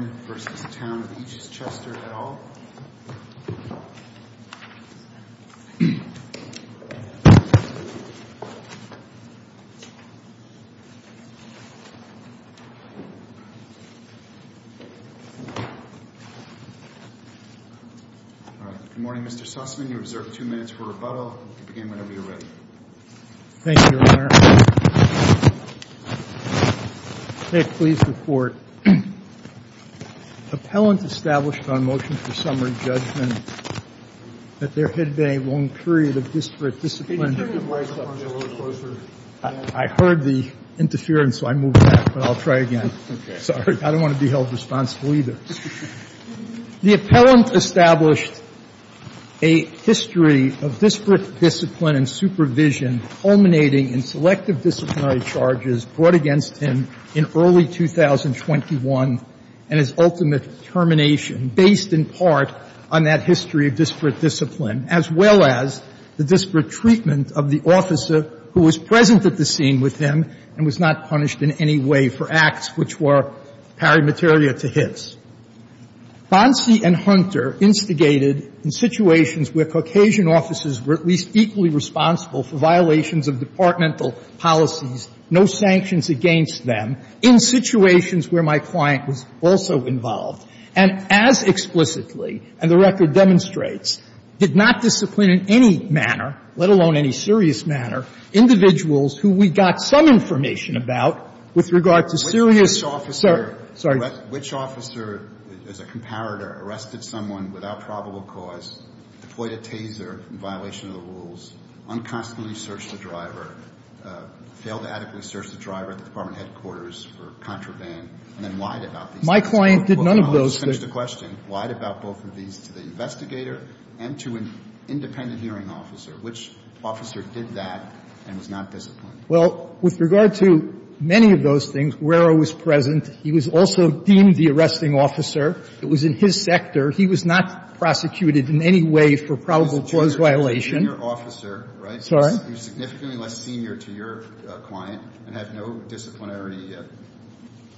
Good morning, Mr. Sussman. You are observed two minutes for rebuttal. You can begin whenever you're ready. The appellant established on motion for summary judgment that there had been a long period of disparate discipline. I heard the interference, so I moved back, but I'll try again. Sorry. I don't want to be held responsible either. The appellant established a history of disparate discipline and supervision culminating in selective disciplinary charges brought against him in early 2021 and his ultimate termination, based in part on that history of disparate discipline as well as the disparate treatment of the officer who was present at the scene with him and was not punished in any way for acts which were paramateria to his. Fonsi and Hunter instigated in situations where Caucasian officers were at least equally responsible for violations of departmental policies, no sanctions against them, in situations where my client was also involved, and as explicitly, and the record demonstrates, did not discipline in any manner, let alone any serious manner, individuals who we got some information about with regard to serious, sorry. Which officer, as a comparator, arrested someone without probable cause, deployed a taser in violation of the rules, unconstantly searched the driver, failed to adequately search the driver at the department headquarters for contraband, and then lied about these things? My client did none of those things. I'll just finish the question. Lied about both of these to the investigator and to an independent hearing officer. Which officer did that and was not disciplined? Well, with regard to many of those things, Rerro was present. He was also deemed the arresting officer. It was in his sector. He was not prosecuted in any way for probable cause violation. He was a junior officer, right? Sorry? He was significantly less senior to your client and had no disciplinary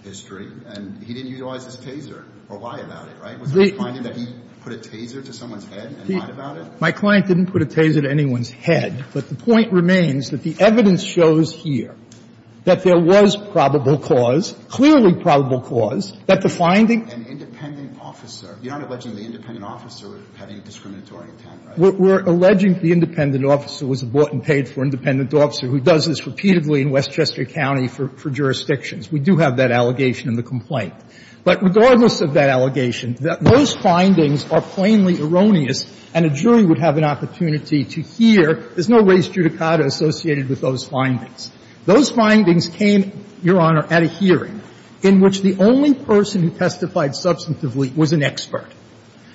history, and he didn't utilize his taser or lie about it, right? Was he finding that he put a taser to someone's head and lied about it? My client didn't put a taser to anyone's head. But the point remains that the evidence shows here that there was probable cause, clearly probable cause, that the finding. An independent officer. You're not alleging the independent officer had any discriminatory intent, right? We're alleging the independent officer was a bought-and-paid-for independent officer who does this repeatedly in Westchester County for jurisdictions. We do have that allegation in the complaint. But regardless of that allegation, those findings are plainly erroneous, and a jury would have an opportunity to hear. There's no res judicata associated with those findings. Those findings came, Your Honor, at a hearing in which the only person who testified substantively was an expert.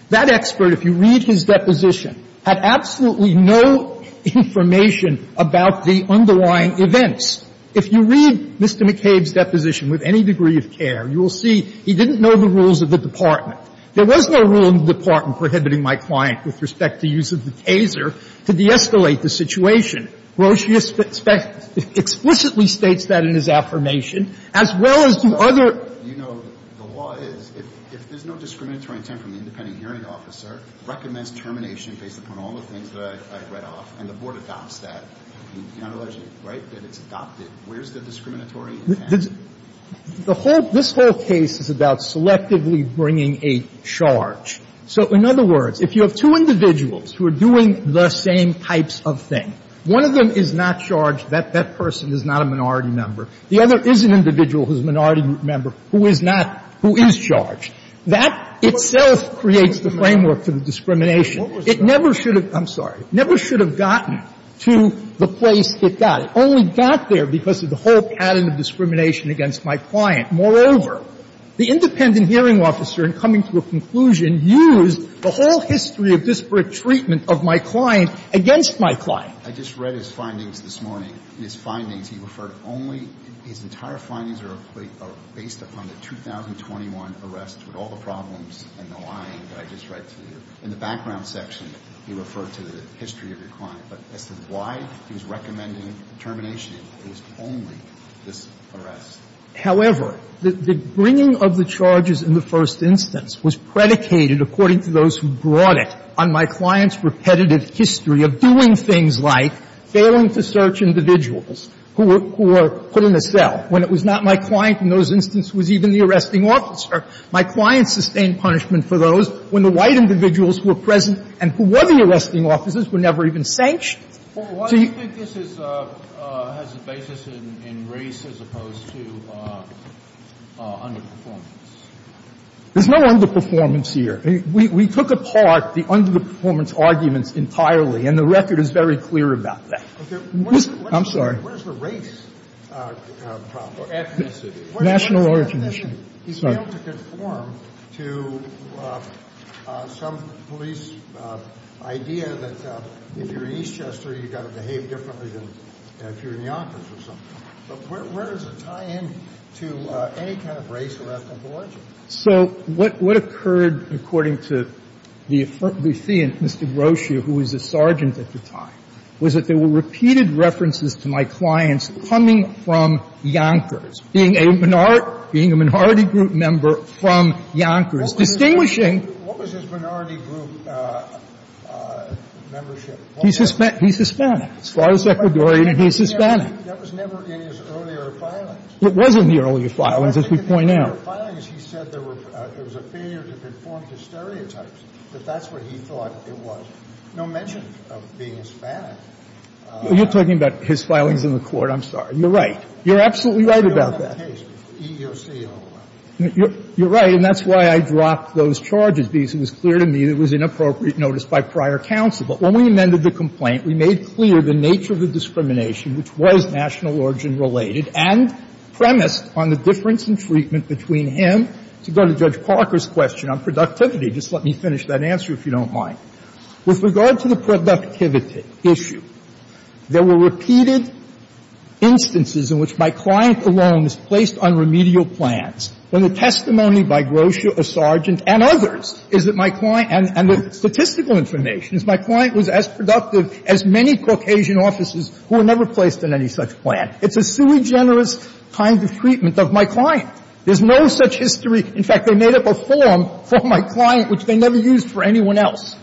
That expert, if you read his deposition, had absolutely no information about the underlying events. If you read Mr. McCabe's deposition with any degree of care, you will see he didn't know the rules of the department. There was no rule in the department prohibiting my client, with respect to use of the taser, to de-escalate the situation. Roche explicitly states that in his affirmation, as well as the other. You know, the law is, if there's no discriminatory intent from the independent hearing officer, recommends termination based upon all the things that I've read off, and the Board adopts that, you're not alleging, right, that it's adopted. Where's the discriminatory intent? The whole – this whole case is about selectively bringing a charge. So in other words, if you have two individuals who are doing the same types of thing, one of them is not charged that that person is not a minority member, the other is an individual who's a minority member who is not – who is charged, that itself creates the framework for the discrimination. It never should have – I'm sorry. Never should have gotten to the place it got. It only got there because of the whole pattern of discrimination against my client. Moreover, the independent hearing officer, in coming to a conclusion, used the whole history of disparate treatment of my client against my client. I just read his findings this morning. In his findings, he referred only – his entire findings are based upon the 2021 arrest with all the problems and the lying that I just read to you. In the background section, he referred to the history of your client, but as to why he was recommending termination, it was only this arrest. However, the bringing of the charges in the first instance was predicated, according to those who brought it, on my client's repetitive history of doing things like failing to search individuals who were put in a cell when it was not my client. In those instances, it was even the arresting officer. My client sustained punishment for those when the white individuals who were present and who were the arresting officers were never even sanctioned. So he – Well, why do you think this has a basis in race as opposed to underperformance? There's no underperformance here. We took apart the underperformance arguments entirely, and the record is very clear about that. I'm sorry. Where's the race problem? Ethnicity. National origin issue. He failed to conform to some police idea that if you're an Eastchester, you've got to behave differently than if you're a Yonkers or something. But where does it tie in to any kind of race or ethnic origin? So what occurred, according to the affront we see in Mr. Grotia, who was a sergeant at the time, was that there were repeated references to my clients coming from Yonkers. Being a minority group member from Yonkers, distinguishing – What was his minority group membership? He's Hispanic. As far as Ecuadorian, he's Hispanic. That was never in his earlier filings. It was in the earlier filings, as we point out. The earlier filings, he said there was a failure to conform to stereotypes, that that's what he thought it was. No mention of being Hispanic. You're talking about his filings in the Court. I'm sorry. You're right. You're absolutely right about that. EEOC, E-O-C-O-R. You're right, and that's why I dropped those charges, because it was clear to me that it was inappropriate notice by prior counsel. But when we amended the complaint, we made clear the nature of the discrimination, which was national origin related, and premised on the difference in treatment between him to go to Judge Parker's question on productivity. Just let me finish that answer, if you don't mind. With regard to the productivity issue, there were repeated instances in which my client alone was placed on remedial plans, when the testimony by Grotia or Sargent and others is that my client and the statistical information is my client was as productive as many Caucasian officers who were never placed on any such plan. It's a sui generis kind of treatment of my client. There's no such history. In fact, they made up a form for my client, which they never used for anyone else.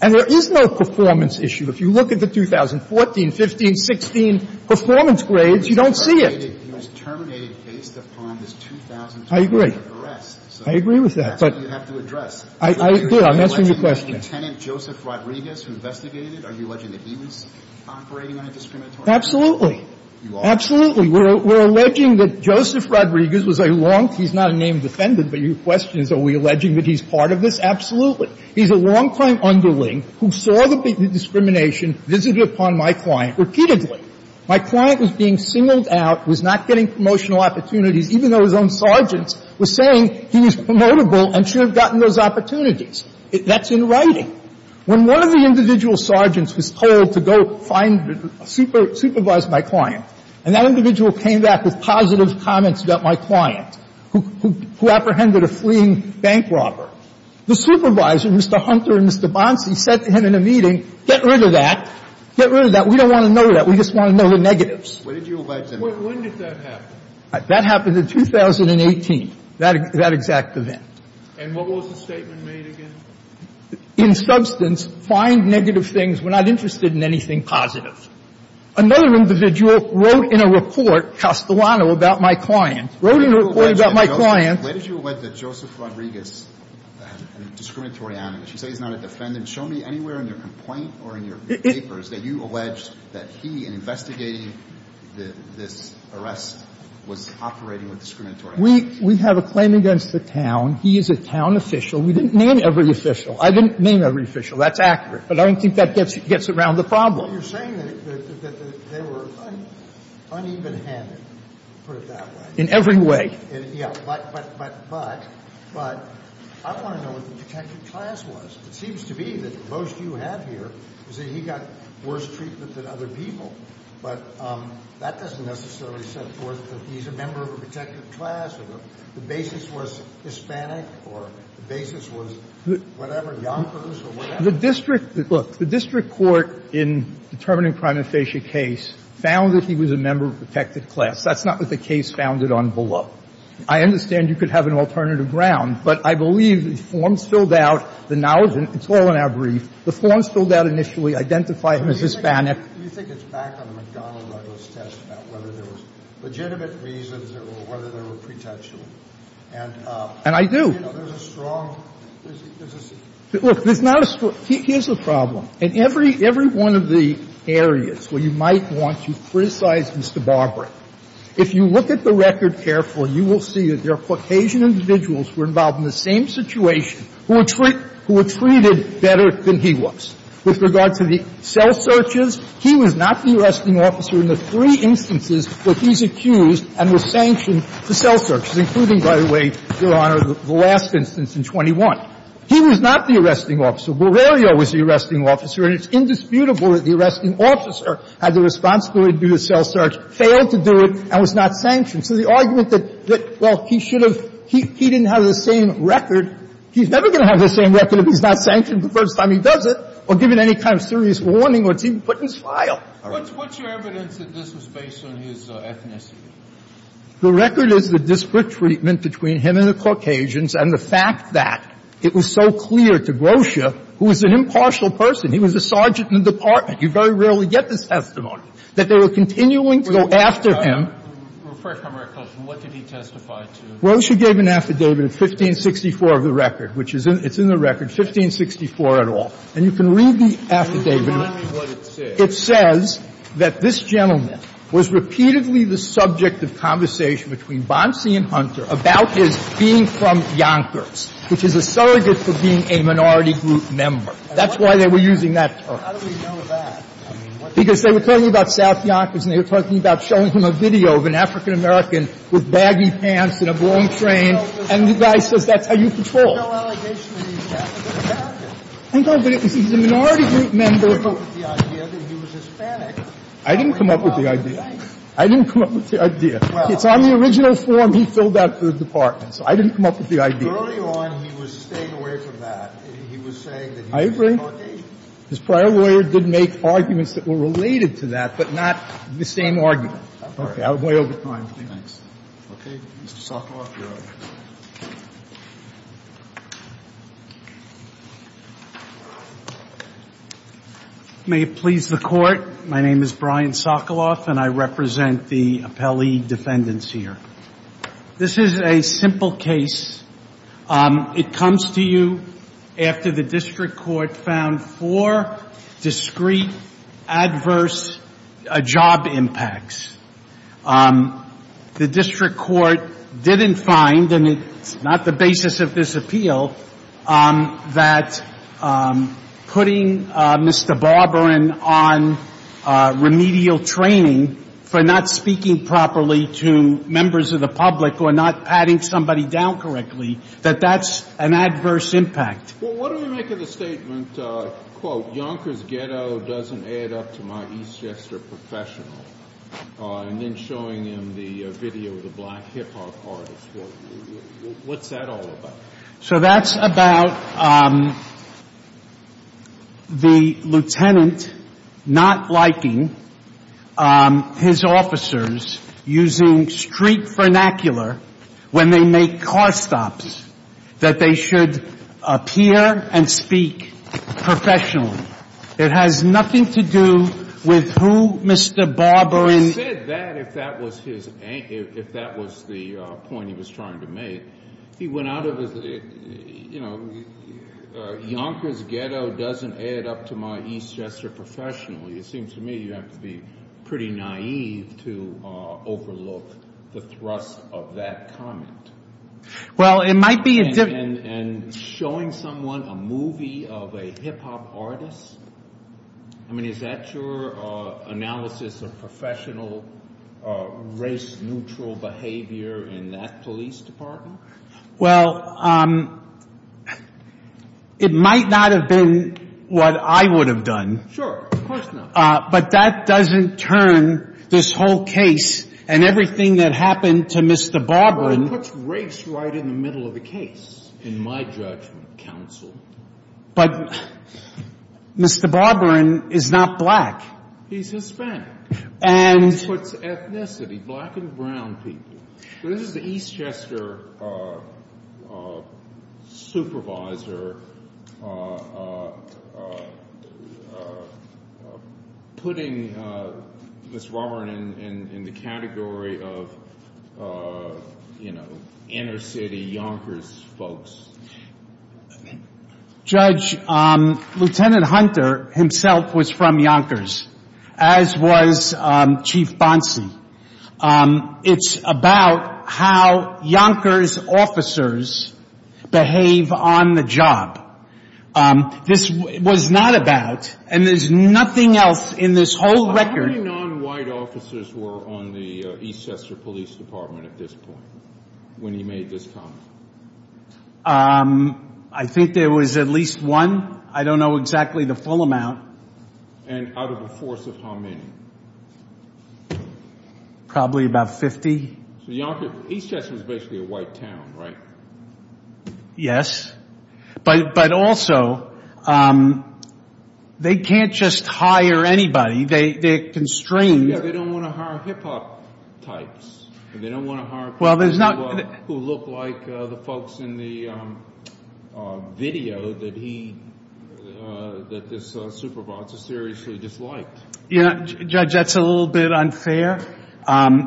And there is no performance issue. If you look at the 2014, 15, 16 performance grades, you don't see it. He was terminated based upon this 2002 arrest. I agree. So that's what you have to address. I did. I'm answering your question. Are you alleging that Lieutenant Joseph Rodriguez investigated it? Are you alleging that he was operating on a discriminatory basis? Absolutely. You are? Absolutely. We're alleging that Joseph Rodriguez was a long – he's not a named defendant, but your question is are we alleging that he's part of this? Absolutely. He's a longtime underling who saw the discrimination visited upon my client repeatedly. My client was being singled out, was not getting promotional opportunities, even though his own sergeants were saying he was promotable and should have gotten those opportunities. That's in writing. When one of the individual sergeants was told to go find – supervise my client, and that individual came back with positive comments about my client, who apprehended a fleeing bank robber, the supervisor, Mr. Hunter and Mr. Bonsi, said to him in a meeting, get rid of that. Get rid of that. We don't want to know that. We just want to know the negatives. When did you allege him? When did that happen? That happened in 2018, that exact event. And what was the statement made again? In substance, find negative things. We're not interested in anything positive. Another individual wrote in a report, Castellano, about my client. Wrote in a report about my client. Where did you allege that Joseph Rodriguez, a discriminatory analyst, you say he's not a defendant. Show me anywhere in your complaint or in your papers that you allege that he, in investigating this arrest, was operating with discriminatory. We have a claim against the town. He is a town official. We didn't name every official. I didn't name every official. That's accurate. But I don't think that gets around the problem. Well, you're saying that they were uneven-handed, put it that way. In every way. Yeah. But I want to know what the protective class was. It seems to be that most you have here is that he got worse treatment than other people, but that doesn't necessarily set forth that he's a member of a protective class or the basis was Hispanic or the basis was whatever, Yonkers or whatever. The district, look, the district court in determining the prima facie case found that he was a member of a protected class. That's not what the case founded on below. I understand you could have an alternative ground, but I believe the forms filled out, the knowledge, and it's all in our brief, the forms filled out initially identify him as Hispanic. Do you think it's back on the McDonnell Douglas test about whether there was legitimate reasons or whether there were pretensions? And I do. You know, there's a strong, there's a strong. Look, there's not a strong. Here's the problem. In every one of the areas where you might want to criticize Mr. Barber, if you look at the record carefully, you will see that there are Caucasian individuals who are involved in the same situation who were treated better than he was. With regard to the cell searches, he was not the arresting officer in the three instances where he's accused and was sanctioned the cell searches, including, by the way, Your Honor, the last instance in 21. He was not the arresting officer. Borrerio was the arresting officer. And it's indisputable that the arresting officer had the responsibility to do the cell search, failed to do it, and was not sanctioned. So the argument that, well, he should have, he didn't have the same record, he's never going to have the same record if he's not sanctioned the first time he does it or given any kind of serious warning or it's even put in his file. All right? What's your evidence that this was based on his ethnicity? The record is the disparate treatment between him and the Caucasians and the fact that it was so clear to Grosha, who was an impartial person. He was a sergeant in the department. You very rarely get this testimony. That they were continuing to go after him. First, let me ask a question. What did he testify to? Grosha gave an affidavit of 1564 of the record, which is in the record, 1564 et al. And you can read the affidavit. Can you remind me what it says? It says that this gentleman was repeatedly the subject of conversation between Grosha and Hunter about his being from Yonkers, which is a surrogate for being a minority group member. That's why they were using that term. How do we know that? Because they were talking about South Yonkers and they were talking about showing him a video of an African-American with baggy pants and a blown train, and the guy says that's how you patrol. There's no allegation that he's an African-American. No, but he's a minority group member. I didn't come up with the idea that he was Hispanic. I didn't come up with the idea. I didn't come up with the idea. It's on the original form he filled out for the department. So I didn't come up with the idea. Earlier on, he was staying away from that. He was saying that he was a surrogate. His prior lawyer did make arguments that were related to that, but not the same argument. Okay. I'm way over time. Thanks. Okay. Mr. Sokoloff, you're up. May it please the Court. My name is Brian Sokoloff and I represent the appellee defendants here. This is a simple case. It comes to you after the district court found four discreet, adverse job impacts. The district court didn't find, and it's not the basis of this appeal, that putting Mr. Barbarin on remedial training for not speaking properly to members of the public or not patting somebody down correctly, that that's an adverse impact. Well, what do we make of the statement, quote, Yonker's ghetto doesn't add up to my Eastchester professional? And then showing him the video of the black hip-hop artist. What's that all about? So that's about the lieutenant not liking his officers using street vernacular when they make car stops, that they should appear and speak professionally. It has nothing to do with who Mr. Barbarin He said that if that was his, if that was the point he was trying to make. He went out of his, you know, Yonker's ghetto doesn't add up to my Eastchester professionally. It seems to me you have to be pretty naive to overlook the thrust of that comment. And showing someone a movie of a hip-hop artist? I mean, is that your analysis of professional race-neutral behavior in that police department? Well, it might not have been what I would have done. Sure, of course not. But that doesn't turn this whole case and everything that happened to Mr. Barbarin Well, it puts race right in the middle of the case, in my judgment, counsel. But Mr. Barbarin is not black. He's Hispanic. And It puts ethnicity, black and brown people. This is the Eastchester supervisor putting Mr. Barbarin in the category of, you know, inner-city Yonkers folks. Judge, Lieutenant Hunter himself was from Yonkers, as was Chief Bonsey. It's about how Yonkers officers behave on the job. This was not about, and there's nothing else in this whole record How many non-white officers were on the Eastchester Police Department at this point, when he made this comment? I think there was at least one. I don't know exactly the full amount. And out of a force of how many? Probably about 50. Eastchester is basically a white town, right? Yes. But also, they can't just hire anybody. They're constrained. Yeah, they don't want to hire hip-hop types. They don't want to hire people who look like the folks in the video that this supervisor seriously disliked. Judge, that's a little bit unfair.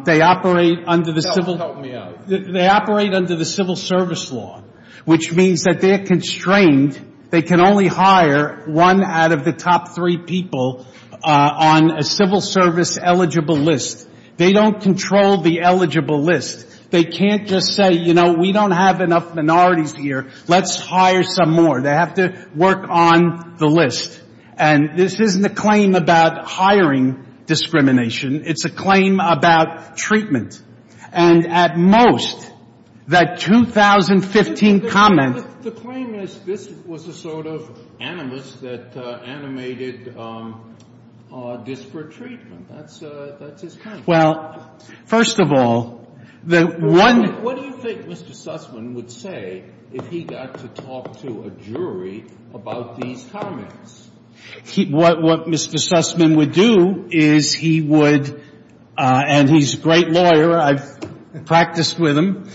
They operate under the civil service law, which means that they're constrained. They can only hire one out of the top three people on a civil service eligible list. They don't control the eligible list. They can't just say, you know, we don't have enough minorities here. Let's hire some more. They have to work on the list. And this isn't a claim about hiring discrimination. It's a claim about treatment. And at most, that 2015 comment — Well, first of all, the one — What do you think Mr. Sussman would say if he got to talk to a jury about these comments? What Mr. Sussman would do is he would — and he's a great lawyer. I've practiced with him.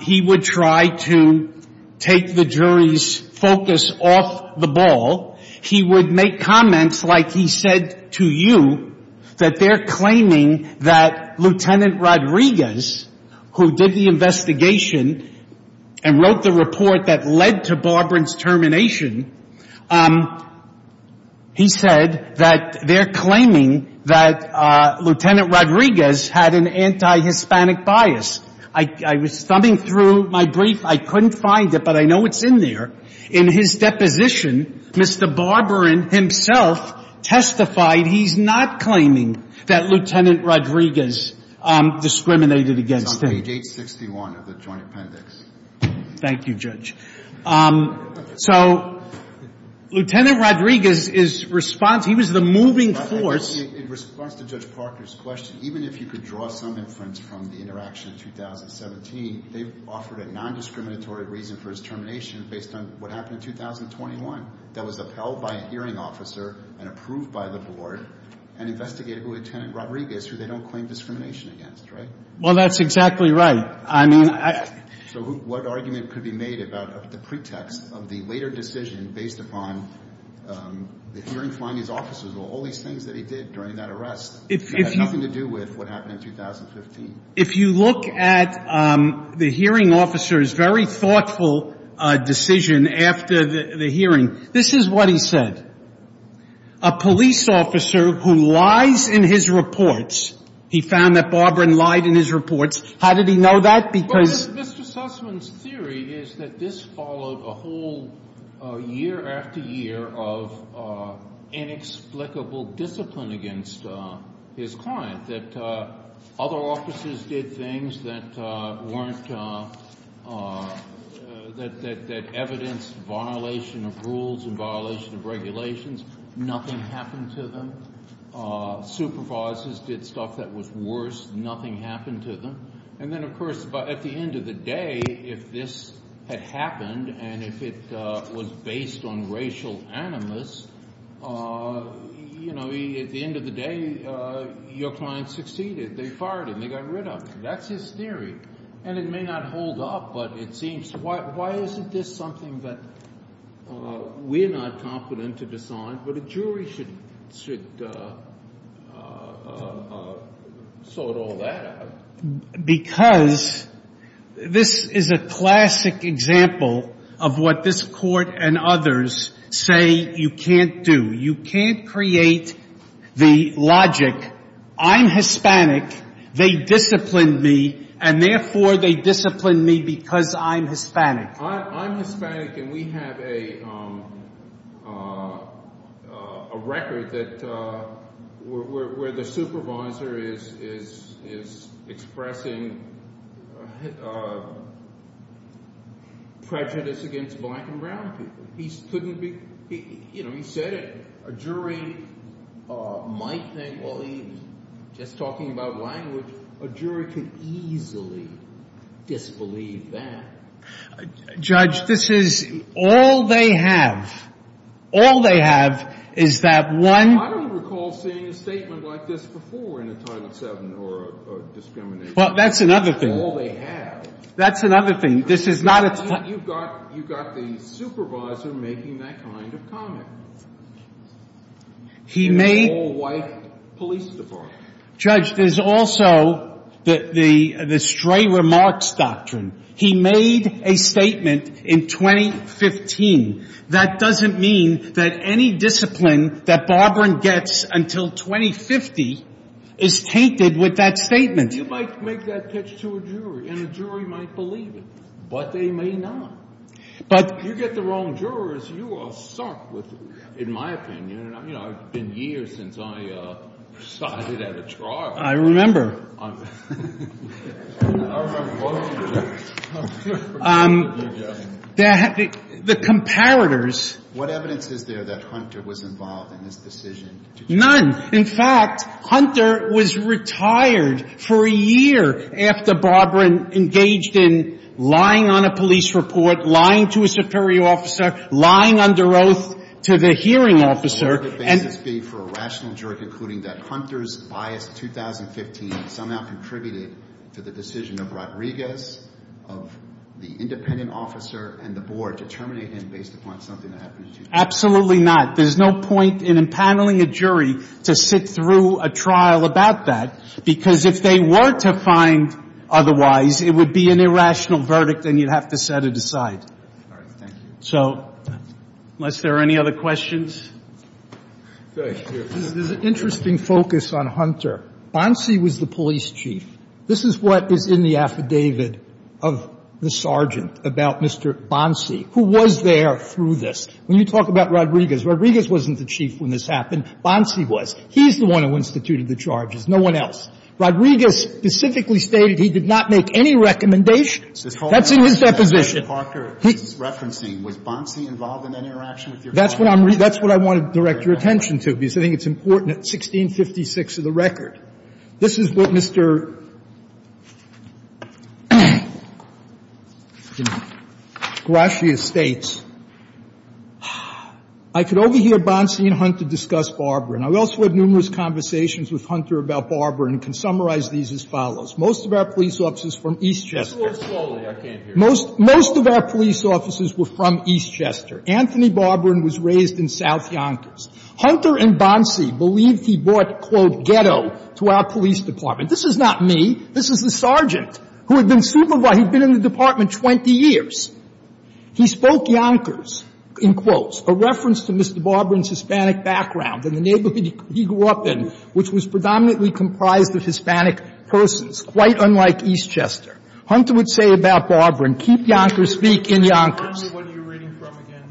He would try to take the jury's focus off the ball. He would make comments like he said to you that they're claiming that Lieutenant Rodriguez, who did the investigation and wrote the report that led to Barbarin's termination, he said that they're claiming that Lieutenant Rodriguez had an anti-Hispanic bias. I was thumbing through my brief. I couldn't find it, but I know it's in there. In his deposition, Mr. Barbarin himself testified he's not claiming that Lieutenant Rodriguez discriminated against him. It's on page 861 of the joint appendix. Thank you, Judge. So, Lieutenant Rodriguez's response, he was the moving force — In response to Judge Parker's question, even if you could draw some inference from the interaction in 2017, they've offered a nondiscriminatory reason for his termination based on what happened in 2021 that was upheld by a hearing officer and approved by the board and investigated Lieutenant Rodriguez, who they don't claim discrimination against, right? Well, that's exactly right. I mean, I — So what argument could be made about the pretext of the later decision based upon the hearings by his officers or all these things that he did during that arrest that had nothing to do with what happened in 2015? If you look at the hearing officer's very thoughtful decision after the hearing, this is what he said. A police officer who lies in his reports — he found that Barbarin lied in his reports. How did he know that? Because — Well, Mr. Sussman's theory is that this followed a whole year after year of inexplicable discipline against his client, that other officers did things that weren't — that evidenced violation of rules and violation of regulations. Nothing happened to them. Supervisors did stuff that was worse. Nothing happened to them. And then, of course, at the end of the day, if this had happened and if it was based on racial animus, you know, at the end of the day, your client succeeded. They fired him. They got rid of him. That's his theory. And it may not hold up, but it seems — why isn't this something that we're not competent to decide, but a jury should sort all that out? Because this is a classic example of what this Court and others say you can't do. You can't create the logic, I'm Hispanic, they disciplined me, and therefore they disciplined me because I'm Hispanic. I'm Hispanic, and we have a record that — where the supervisor is expressing prejudice against black and brown people. He couldn't be — you know, he said it. A jury might think, well, he's just talking about language. A jury can easily disbelieve that. Judge, this is — all they have, all they have is that one — I don't recall seeing a statement like this before in a Title VII or a discrimination case. Well, that's another thing. All they have. That's another thing. This is not a — You've got the supervisor making that kind of comment. He made — The whole white police department. Judge, there's also the stray remarks doctrine. He made a statement in 2015. That doesn't mean that any discipline that Barbaran gets until 2050 is tainted with that statement. You might make that pitch to a jury, and a jury might believe it, but they may not. But — You get the wrong jurors, you are sunk with — in my opinion, you know, it's been years since I sided at a trial. I remember. I remember both of you. The comparators — What evidence is there that Hunter was involved in this decision? None. In fact, Hunter was retired for a year after Barbaran engaged in lying on a police report, lying to a superior officer, lying under oath to the hearing officer, and — Could the basis be for a rational jury concluding that Hunter's bias in 2015 somehow contributed to the decision of Rodriguez, of the independent officer and the board, to terminate him based upon something that happened to him? Absolutely not. There's no point in empaneling a jury to sit through a trial about that, because if they were to find otherwise, it would be an irrational verdict, and you'd have to set it aside. All right. Thank you. So, unless there are any other questions? There's an interesting focus on Hunter. Bonsi was the police chief. This is what is in the affidavit of the sergeant about Mr. Bonsi, who was there through this. When you talk about Rodriguez, Rodriguez wasn't the chief when this happened. Bonsi was. He's the one who instituted the charges. No one else. Rodriguez specifically stated he did not make any recommendations. That's in his deposition. Mr. Parker, he's referencing, was Bonsi involved in that interaction with your client? That's what I'm — that's what I want to direct your attention to, because I think it's important at 1656 of the record. This is what Mr. Gracia states. I could overhear Bonsi and Hunter discuss Barbarin. I've also had numerous conversations with Hunter about Barbarin and can summarize these as follows. Most of our police officers from Eastchester. Just go slowly. I can't hear you. Most of our police officers were from Eastchester. Anthony Barbarin was raised in South Yonkers. Hunter and Bonsi believed he brought, quote, ghetto to our police department. This is not me. This is the sergeant who had been supervising. He'd been in the department 20 years. He spoke Yonkers, in quotes, a reference to Mr. Barbarin's Hispanic background and the neighborhood he grew up in, which was predominantly comprised of Hispanic persons, quite unlike Eastchester. Hunter would say about Barbarin, keep Yonkers, speak in Yonkers.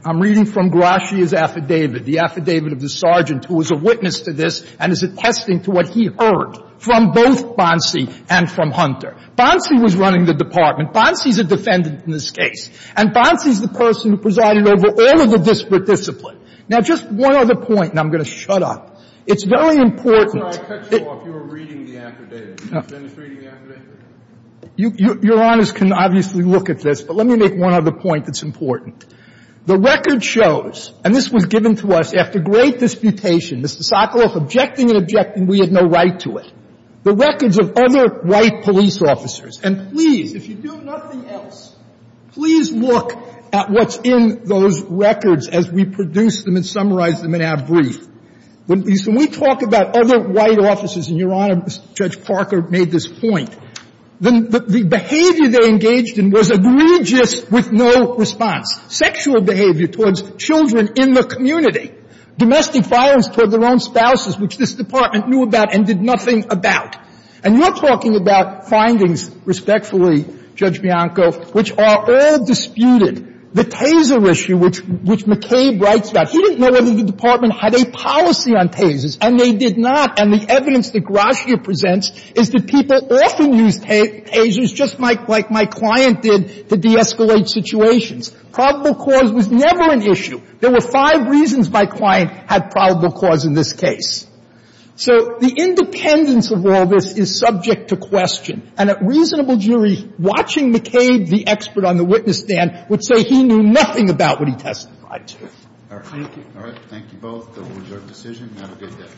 I'm reading from Gracia's affidavit. The affidavit of the sergeant who was a witness to this and is attesting to what he heard from both Bonsi and from Hunter. Bonsi was running the department. Bonsi's a defendant in this case. And Bonsi's the person who presided over all of the disparate discipline. Now, just one other point, and I'm going to shut up. It's very important that you're reading the affidavit. Can you finish reading the affidavit? Your Honors can obviously look at this, but let me make one other point that's important. The record shows, and this was given to us after great disputation, Mr. Sokoloff objecting and objecting we had no right to it. The records of other white police officers, and please, if you do nothing else, please look at what's in those records as we produce them and summarize them in our brief. When we talk about other white officers, and Your Honor, Judge Parker made this point, the behavior they engaged in was egregious with no response. Sexual behavior towards children in the community. Domestic violence toward their own spouses, which this department knew about and did nothing about. And you're talking about findings, respectfully, Judge Bianco, which are all disputed. The taser issue, which McCabe writes about, he didn't know whether the department had a policy on tasers, and they did not. And the evidence that Gratia presents is that people often use tasers just like my client did to de-escalate situations. Probable cause was never an issue. There were five reasons my client had probable cause in this case. So the independence of all this is subject to question. And a reasonable jury, watching McCabe, the expert on the witness stand, would say he knew nothing about what he testified to. Thank you. Thank you both for your decision. Have a good day.